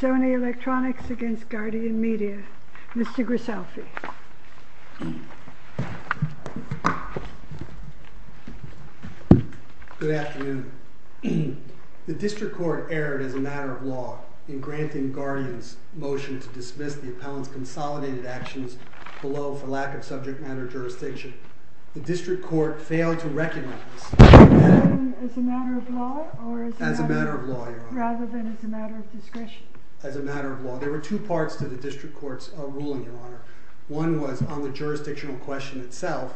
Sony Electronics v. Guardian Media Mr. Grisalfi Good afternoon. The District Court erred as a matter of law in granting Guardian's motion to dismiss the appellant's consolidated actions below for lack of subject matter jurisdiction. The District Court failed to recognize that As a matter of law? As a matter of law, Your Honor. Rather than as a matter of discretion? As a matter of law. There were two parts to the District Court's ruling, Your Honor. One was on the jurisdictional question itself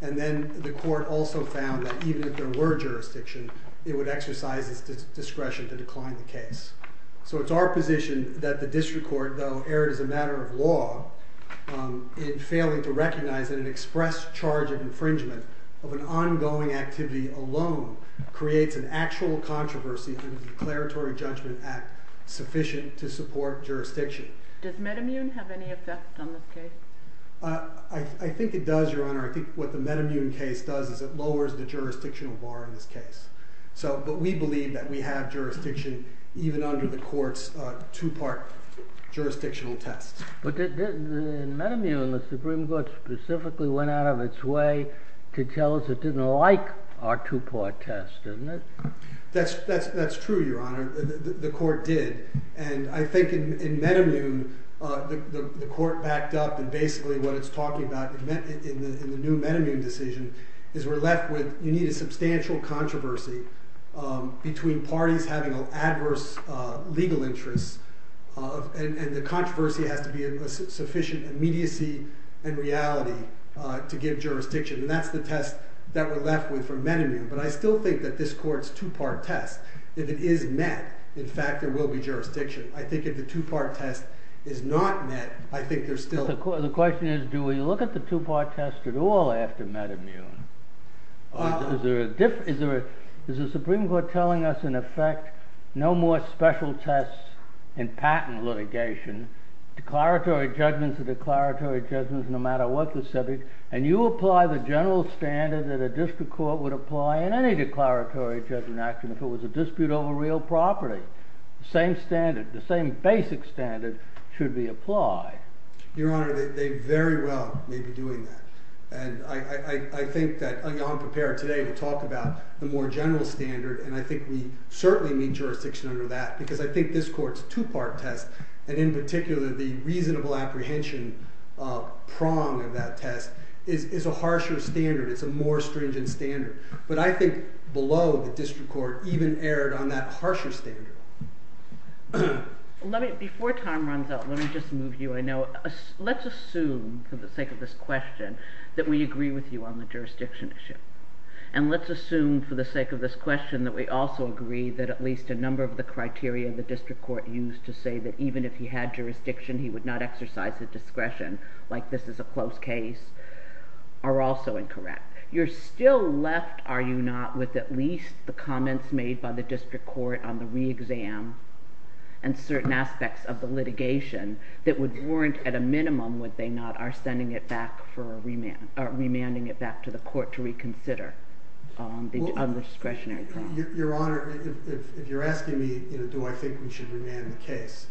and then the Court also found that even if there were jurisdiction it would exercise its discretion to decline the case. So it's our position that the District Court, though erred as a matter of law in failing to recognize that an express charge of infringement of an ongoing activity alone creates an actual controversy in the Declaratory Judgment Act sufficient to support jurisdiction. Does MedImmune have any effect on this case? I think it does, Your Honor. I think what the MedImmune case does is it lowers the jurisdictional bar in this case. But we believe that we have jurisdiction even under the Court's two-part jurisdictional test. But in MedImmune, the Supreme Court specifically went out of its way to tell us it didn't like our two-part test, didn't it? That's true, Your Honor. The Court did. And I think in MedImmune, the Court backed up and basically what it's talking about in the new MedImmune decision is we're left with, you need a substantial controversy between parties having adverse legal interests and the controversy has to be a sufficient immediacy and reality to give jurisdiction. And that's the test that we're left with for MedImmune. But I still think that this Court's two-part test, if it is met, in fact, there will be jurisdiction. I think if the two-part test is not met, I think there's still... The question is, do we look at the two-part test at all after MedImmune? Is there a Supreme Court telling us, in effect, no more special tests in patent litigation? Declaratory judgments are declaratory judgments no matter what the subject. And you apply the general standard that a district court would apply in any declaratory judgment action if it was a dispute over real property. The same standard, the same basic standard should be applied. Your Honor, they very well may be doing that. And I think that I'm prepared today to talk about the more general standard and I think we certainly need jurisdiction under that because I think this Court's two-part test and in particular the reasonable apprehension prong of that test is a harsher standard. It's a more stringent standard. But I think below, the district court even erred on that harsher standard. Before time runs out, let me just move you. Let's assume, for the sake of this question, that we agree with you on the jurisdiction issue. And let's assume, for the sake of this question, that we also agree that at least a number of the criteria the district court used to say that even if he had jurisdiction, he would not exercise his discretion, like this is a closed case, are also incorrect. You're still left, are you not, with at least the comments made by the district court on the re-exam and certain aspects of the litigation that would warrant at a minimum, would they not, our sending it back for a remand or remanding it back to the court to reconsider on the discretionary prong. Your Honor, if you're asking me do I think we should remand the case,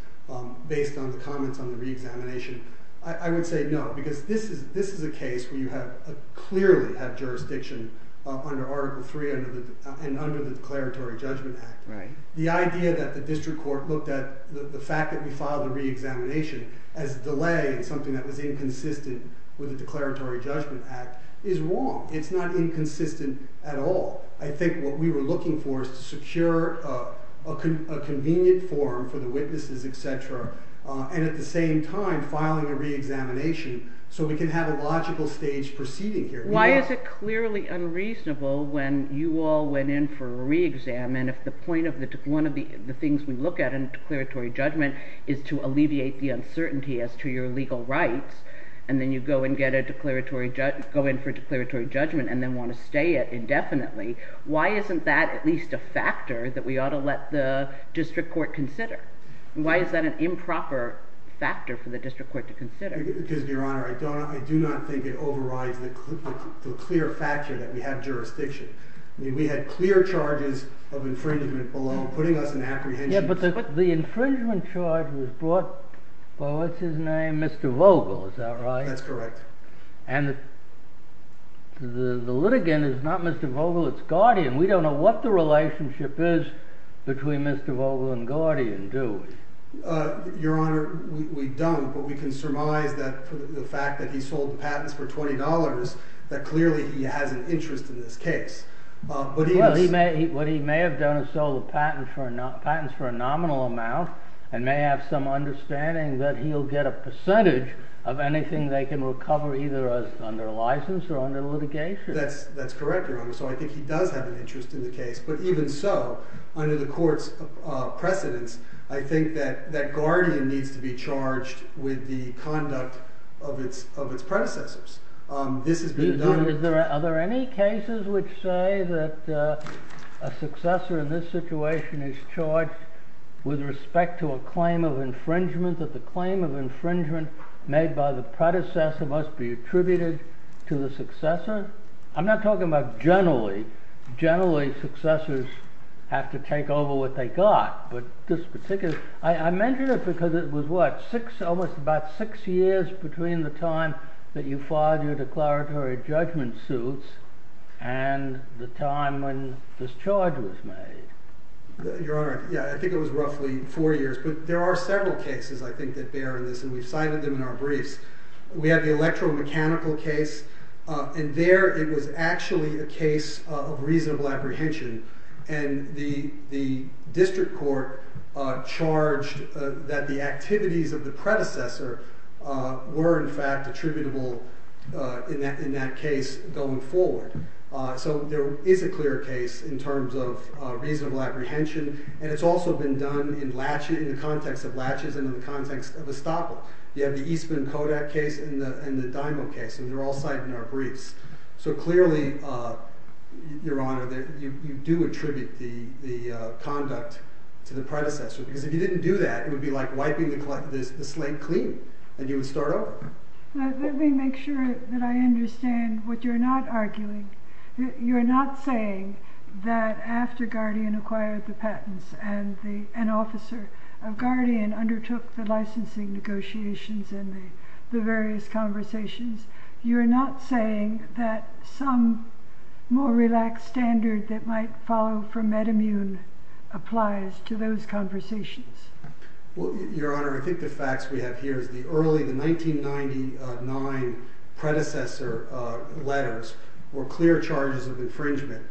based on the comments on the re-examination, I would say no. Because this is a case where you have clearly had jurisdiction under Article 3 and under the Declaratory Judgment Act. The idea that the district court looked at the fact that we filed a re-examination as delaying something that was inconsistent with the Declaratory Judgment Act is wrong. It's not inconsistent at all. I think what we were looking for is to secure a convenient forum for the witnesses, etc. And at the same time, filing a re-examination so we can have a logical stage proceeding here. Why is it clearly unreasonable when you all went in for a re-exam and if one of the things we look at in a declaratory judgment is to alleviate the uncertainty as to your legal rights, and then you go in for a declaratory judgment and then want to stay it indefinitely, why isn't that at least a factor that we ought to let the district court consider? Why is that an improper factor for the district court to consider? Because, Your Honor, I do not think it overrides the clear factor that we have jurisdiction. We had clear charges of infringement below putting us in apprehension. Yeah, but the infringement charge was brought by, what's his name, Mr. Vogel, is that right? That's correct. And the litigant is not Mr. Vogel, it's Guardian. We don't know what the relationship is between Mr. Vogel and Guardian, do we? Your Honor, we don't, but we can surmise that the fact that he sold the patents for $20 that clearly he has an interest in this case. What he may have done is sold the patents for a nominal amount and may have some understanding that he'll get a percentage of anything they can recover either under license or under litigation. That's correct, Your Honor. So I think he does have an interest in the case, but even so, under the court's precedence, I think that Guardian needs to be charged with the conduct of its predecessors. This has been done... Are there any cases which say that a successor in this situation is charged with respect to a claim of infringement, that the claim of infringement made by the predecessor must be attributed to the successor? I'm not talking about generally. Generally, successors have to take over what they got, but this particular... I mention it because it was, what, almost about six years between the time that you filed your declaratory judgment suits and the time when this charge was made. Your Honor, I think it was roughly four years, but there are several cases, I think, that bear this, and we've cited them in our briefs. We have the electromechanical case, and there it was actually a case of reasonable apprehension, and the district court charged that the activities of the predecessor were, in fact, attributable in that case going forward. So there is a clear case in terms of reasonable apprehension, and it's also been done in the context of latches and in the context of estoppel. You have the Eastman-Kodak case and the Dymo case, and they're all cited in our briefs. So clearly, Your Honor, you do attribute the conduct to the predecessor, because if you didn't do that, it would be like wiping the slate clean, and you would start over. Let me make sure that I understand what you're not arguing. You're not saying that after Guardian acquired the patents and an officer of Guardian undertook the licensing negotiations and the various conversations, you're not saying that some more relaxed standard that might follow from MedImmune applies to those conversations? Your Honor, I think the facts we have here is the early, the 1999 predecessor letters were clear charges of infringement.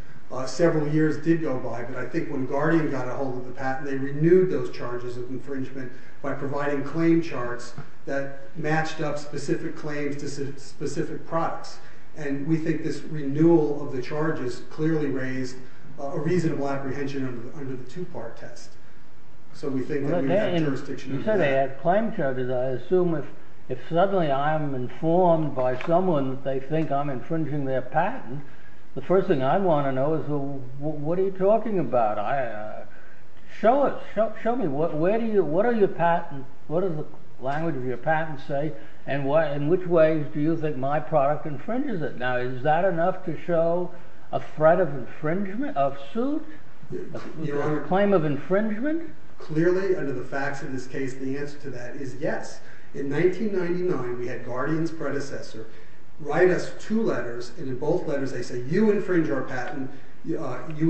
Several years did go by, but I think when Guardian got a hold of the patent, they renewed those charges of infringement by providing claim charts that matched up specific claims to specific products. And we think this renewal of the charges clearly raised a reasonable apprehension under the two-part test. So we think that we have jurisdiction over that. You said they had claim charges. I assume if suddenly I'm informed by someone that they think I'm infringing their patent, the first thing I want to know is, what are you talking about? Show me. What are your patents? What does the language of your patent say? And in which ways do you think my product infringes it? Now is that enough to show a threat of infringement, of suit? A claim of infringement? Clearly, under the facts of this case, the answer to that is yes. In 1999, we had Guardian's predecessor write us two letters, and in both letters they say, you infringe our patent, you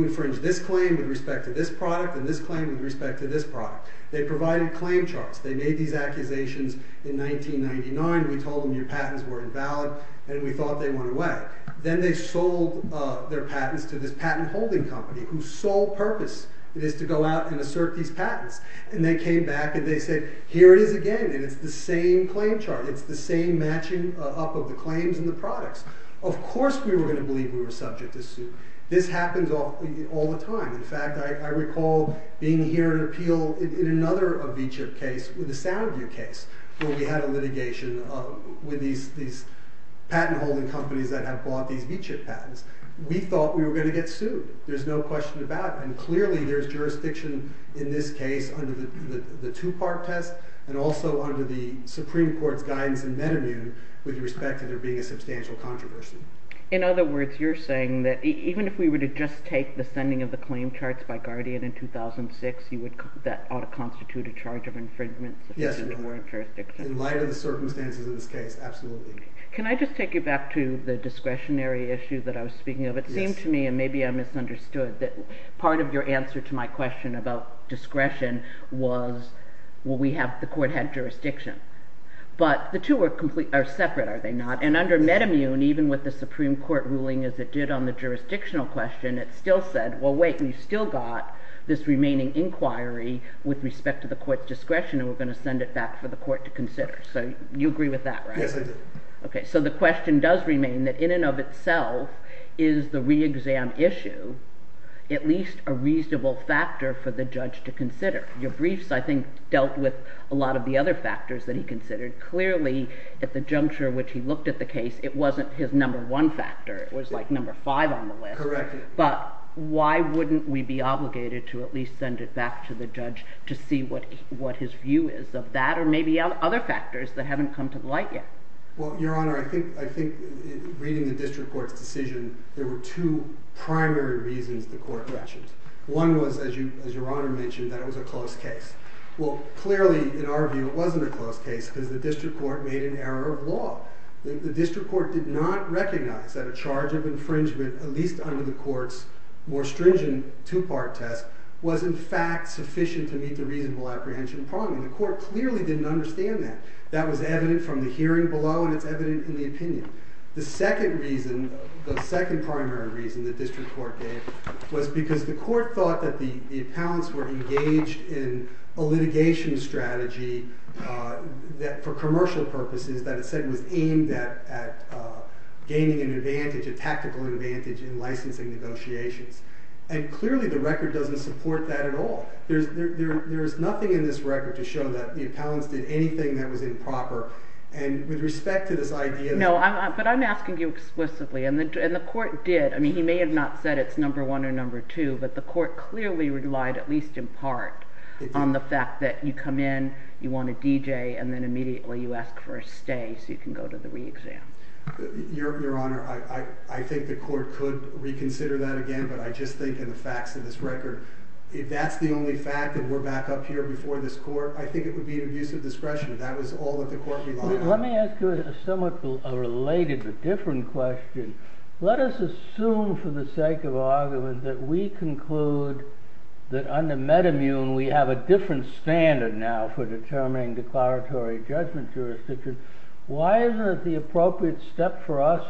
infringe this claim with respect to this product, and this claim with respect to this product. They provided claim charts. They made these accusations in 1999. We told them your patents were invalid, and we thought they went away. Then they sold their patents to this patent-holding company, whose sole purpose is to go out and assert these patents. And they came back and they said, here it is again, and it's the same claim chart. It's the same matching up of the claims and the products. Of course we were going to believe we were subject to suit. This happens all the time. In fact, I recall being here at an appeal in another V-CHIP case, with the Soundview case, where we had a litigation with these patent-holding companies that had bought these V-CHIP patents. We thought we were going to get sued. There's no question about it. And clearly there's jurisdiction in this case under the two-part test, and also under the Supreme Court's guidance in MetaMun with respect to there being a substantial controversy. In other words, you're saying that even if we were to just take the sending of the claim charts by Guardian in 2006, that ought to constitute a charge of infringement? Yes, in light of the circumstances of this case, absolutely. Can I just take you back to the discretionary issue that I was speaking of? It seemed to me, and maybe I misunderstood, that part of your answer to my question about discretion was the court had jurisdiction. But the two are separate, are they not? And under MetaMun, even with the Supreme Court ruling as it did on the jurisdictional question, it still said, well, wait, we've still got this remaining inquiry with respect to the court's discretion, and we're going to send it back for the court to consider. So you agree with that, right? Yes, I do. Okay, so the question does remain that in and of itself is the re-exam issue at least a reasonable factor for the judge to consider. Your briefs, I think, dealt with a lot of the other factors that he considered. Clearly, at the juncture which he looked at the case, it wasn't his number one factor. It was like number five on the list. Correct. But why wouldn't we be obligated to at least send it back to the judge to see what his view is of that or maybe other factors that haven't come to light yet? Well, Your Honor, I think reading the district court's decision, there were two primary reasons the court retched. One was, as Your Honor mentioned, that it was a close case. Well, clearly, in our view, it wasn't a close case because the district court made an error of law. The district court did not recognize that a charge of infringement at least under the court's more stringent two-part test was in fact sufficient to meet the reasonable apprehension problem. The court clearly didn't understand that. That was evident from the hearing below and it's evident in the opinion. The second reason, the second primary reason the district court gave was because the court thought that the appellants were engaged in a litigation strategy that for commercial purposes that it said was aimed at gaining an advantage, a tactical advantage in licensing negotiations. And clearly the record doesn't support that at all. There's nothing in this record to show that the appellants did anything that was improper. And with respect to this idea... No, but I'm asking you explicitly. And the court did. I mean, he may have not said it's number one or number two, but the court clearly relied at least in part on the fact that you come in, you want to DJ, and then immediately you ask for a stay so you can go to the re-exam. Your Honor, I think the court could reconsider that again, but I just think in the facts of this record, if that's the only fact that we're back up here before this court, I think it would be an abuse of discretion. That was all that the court relied on. Let me ask you a somewhat related but different question. Let us assume for the sake of argument that we conclude that under metamune we have a different standard now for determining declaratory judgment jurisdiction. Why isn't it the appropriate step for us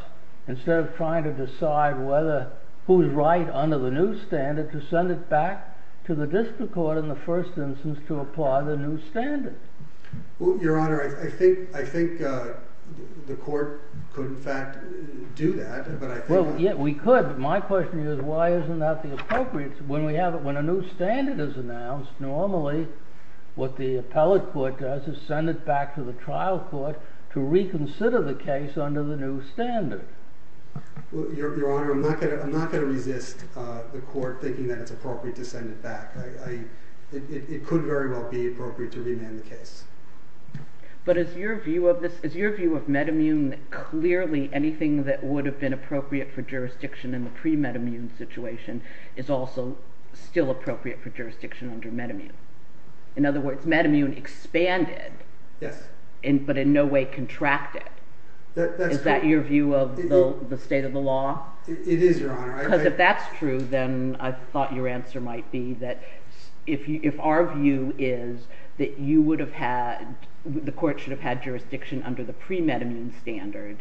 instead of trying to decide who's right under the new standard to send it back to the district court in the first instance to apply the new standard? Your Honor, I think the court could in fact do that, but I think... Well, yeah, we could, but my question is why isn't that the appropriate... When a new standard is announced, normally what the appellate court does is send it back to the trial court to reconsider the case under the new standard. Your Honor, I'm not going to resist the court thinking that it's appropriate to send it back. It could very well be appropriate to remand the case. But is your view of metamune clearly anything that would have been appropriate for jurisdiction in the pre-metamune situation is also still appropriate for jurisdiction under metamune? In other words, metamune expanded but in no way contracted. Is that your view of the state of the law? It is, Your Honor. Because if that's true, then I thought your answer might be that if our view is that you would have had... the court should have had jurisdiction under the pre-metamune standard,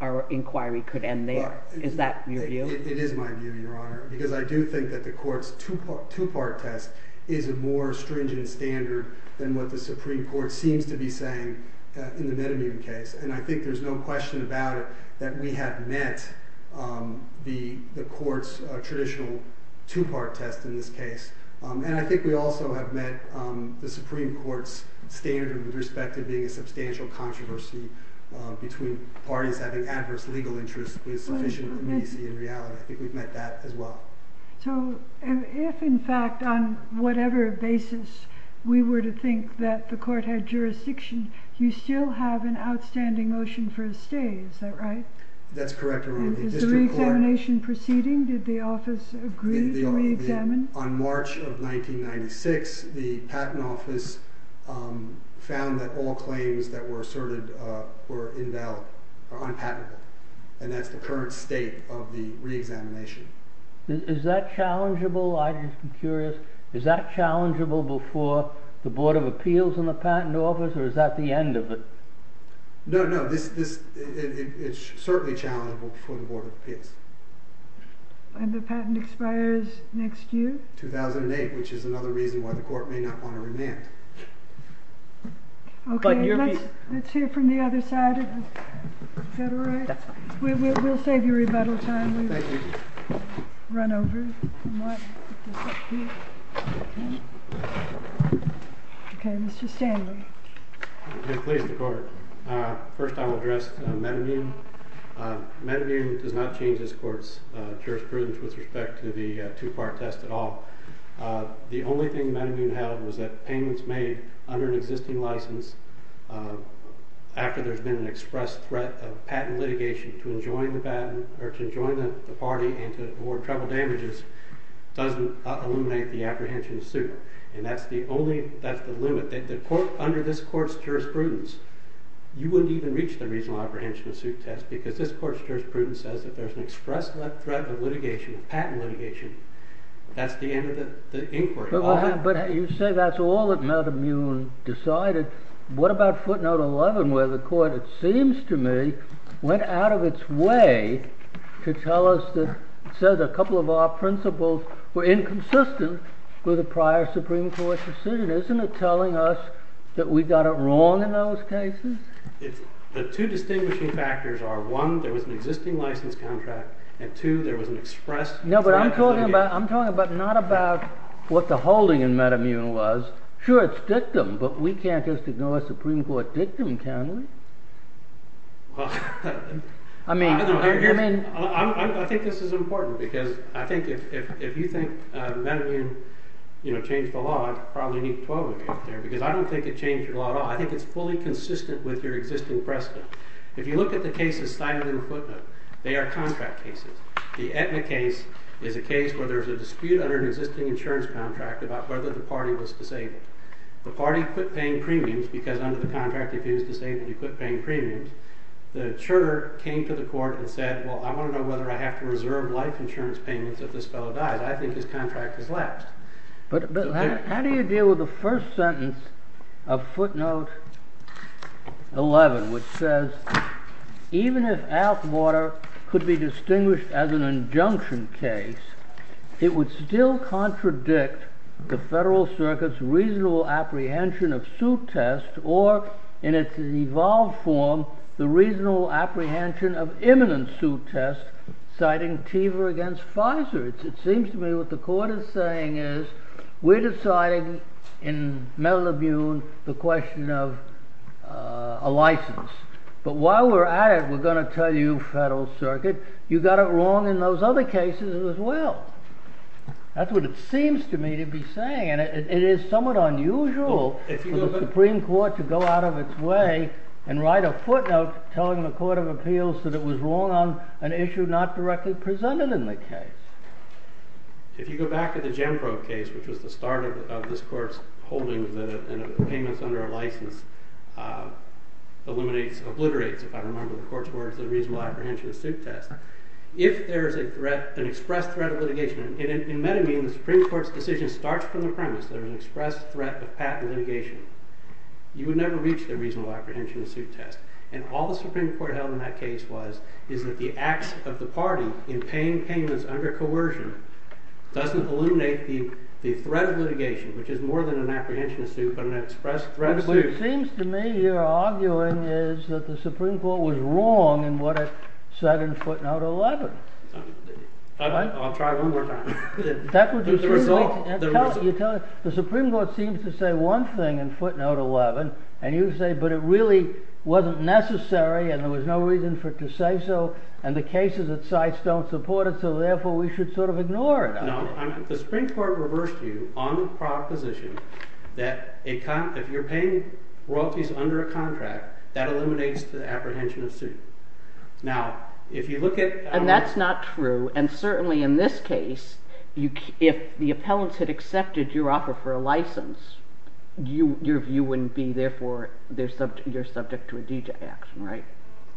our inquiry could end there. Is that your view? It is my view, Your Honor, because I do think that the court's two-part test is a more stringent standard than what the Supreme Court seems to be saying in the metamune case. And I think there's no question about it that we have met the court's traditional two-part test in this case. And I think we also have met the Supreme Court's standard with respect to being a substantial controversy between parties having adverse legal interests with sufficient immediacy in reality. I think we've met that as well. So if, in fact, on whatever basis we were to think that the court had jurisdiction, you still have an outstanding motion for a stay. Is that right? That's correct, Your Honor. Is the re-examination proceeding? Did the office agree to re-examine? On March of 1996, the patent office found that all claims that were asserted were invalid, or unpatentable. And that's the current state of the re-examination. Is that challengeable? I'm just curious. Is that challengeable before the Board of Appeals and the patent office, or is that the end of it? No, no. It's certainly challengeable before the Board of Appeals. And the patent expires next year? 2008, which is another reason why the court may not want to remand. Okay, let's hear from the other side of the confederate. We'll save you rebuttal time. Thank you. We'll run over. Okay, Mr. Stanley. I'm pleased to court. First, I'll address Metamune. Metamune does not change its court's jurisprudence with respect to the two-part test at all. The only thing Metamune held was that payments made under an existing license after there's been an express threat of patent litigation to enjoin the patent, or to enjoin the party and to award the patent. And that's the only limit. Under this court's jurisprudence, you wouldn't even reach the reasonable apprehension of suit test because this court's jurisprudence says if there's an express threat of patent litigation, that's the end of the inquiry. But you say that's all that Metamune decided. What about footnote 11 where the court, it seems to me, went out of its way to tell us that there's an existing license contract and two express threat of patent litigation. No, but I'm talking about not about what the holding in Metamune was. Sure, it's can we? I think this is important because, you know, the Supreme Court did not say that there was an existing license contract. Because I think if you think Metamune changed the law, I probably need 12 of you because I don't think it changed the law at all. I think it's fully consistent with your existing precedent. If you look at the cases cited in the footnote, they are contract cases. The Etna case is a case where there's a dispute under an existing insurance contract about whether the party was disabled. The party quit paying premiums because under the contract if he was disabled he quit paying premiums. The juror came to the court and said, well, I want to know whether I have to reserve life insurance payments if this fellow dies. I think his contract is flat. How do you deal with the first sentence of footnote 11, which says even if Alquarter could be distinguished as an injunction case, it would still contradict the federal circuit's reasonable apprehension of suit tests or in its evolved form the reasonable apprehension of imminent suit tests citing TEVA against Pfizer. It seems to me what the court is saying is we're deciding Metal Labune the question of a license. But while we're at it we're going to tell you federal circuit, you got it wrong in those other cases as well. That's what it seems to me to be saying and it is somewhat unusual for the Supreme Court to go out of its way and write a footnote telling the Court of Appeals that it was wrong on an issue not directly presented in the case. If you go back to the Genpro patent litigation you would never reach the reasonable apprehension suit test. And all the Supreme Court held in that case was is that the acts of the party in paying payments under coercion doesn't eliminate the threat of litigation which is more than an apprehension suit but an express apprehension So what you're arguing is that the Supreme Court was wrong in what it said in footnote 11. I'll try one more time. The Supreme Court seems to say one thing in footnote 11 and you say but it really wasn't necessary and there are cases that sites don't support it so therefore we should sort of ignore it. No. The Supreme Court reversed you on the proposition that if you're paying royalties under a contract that eliminates the apprehension suit. And that's not true and certainly in this case if the appellants had accepted your offer for a license your view wouldn't be therefore you're subject to a DJ action.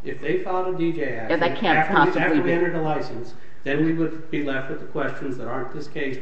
If they filed a DJ action after they entered a license then we would be left with questions aren't this case???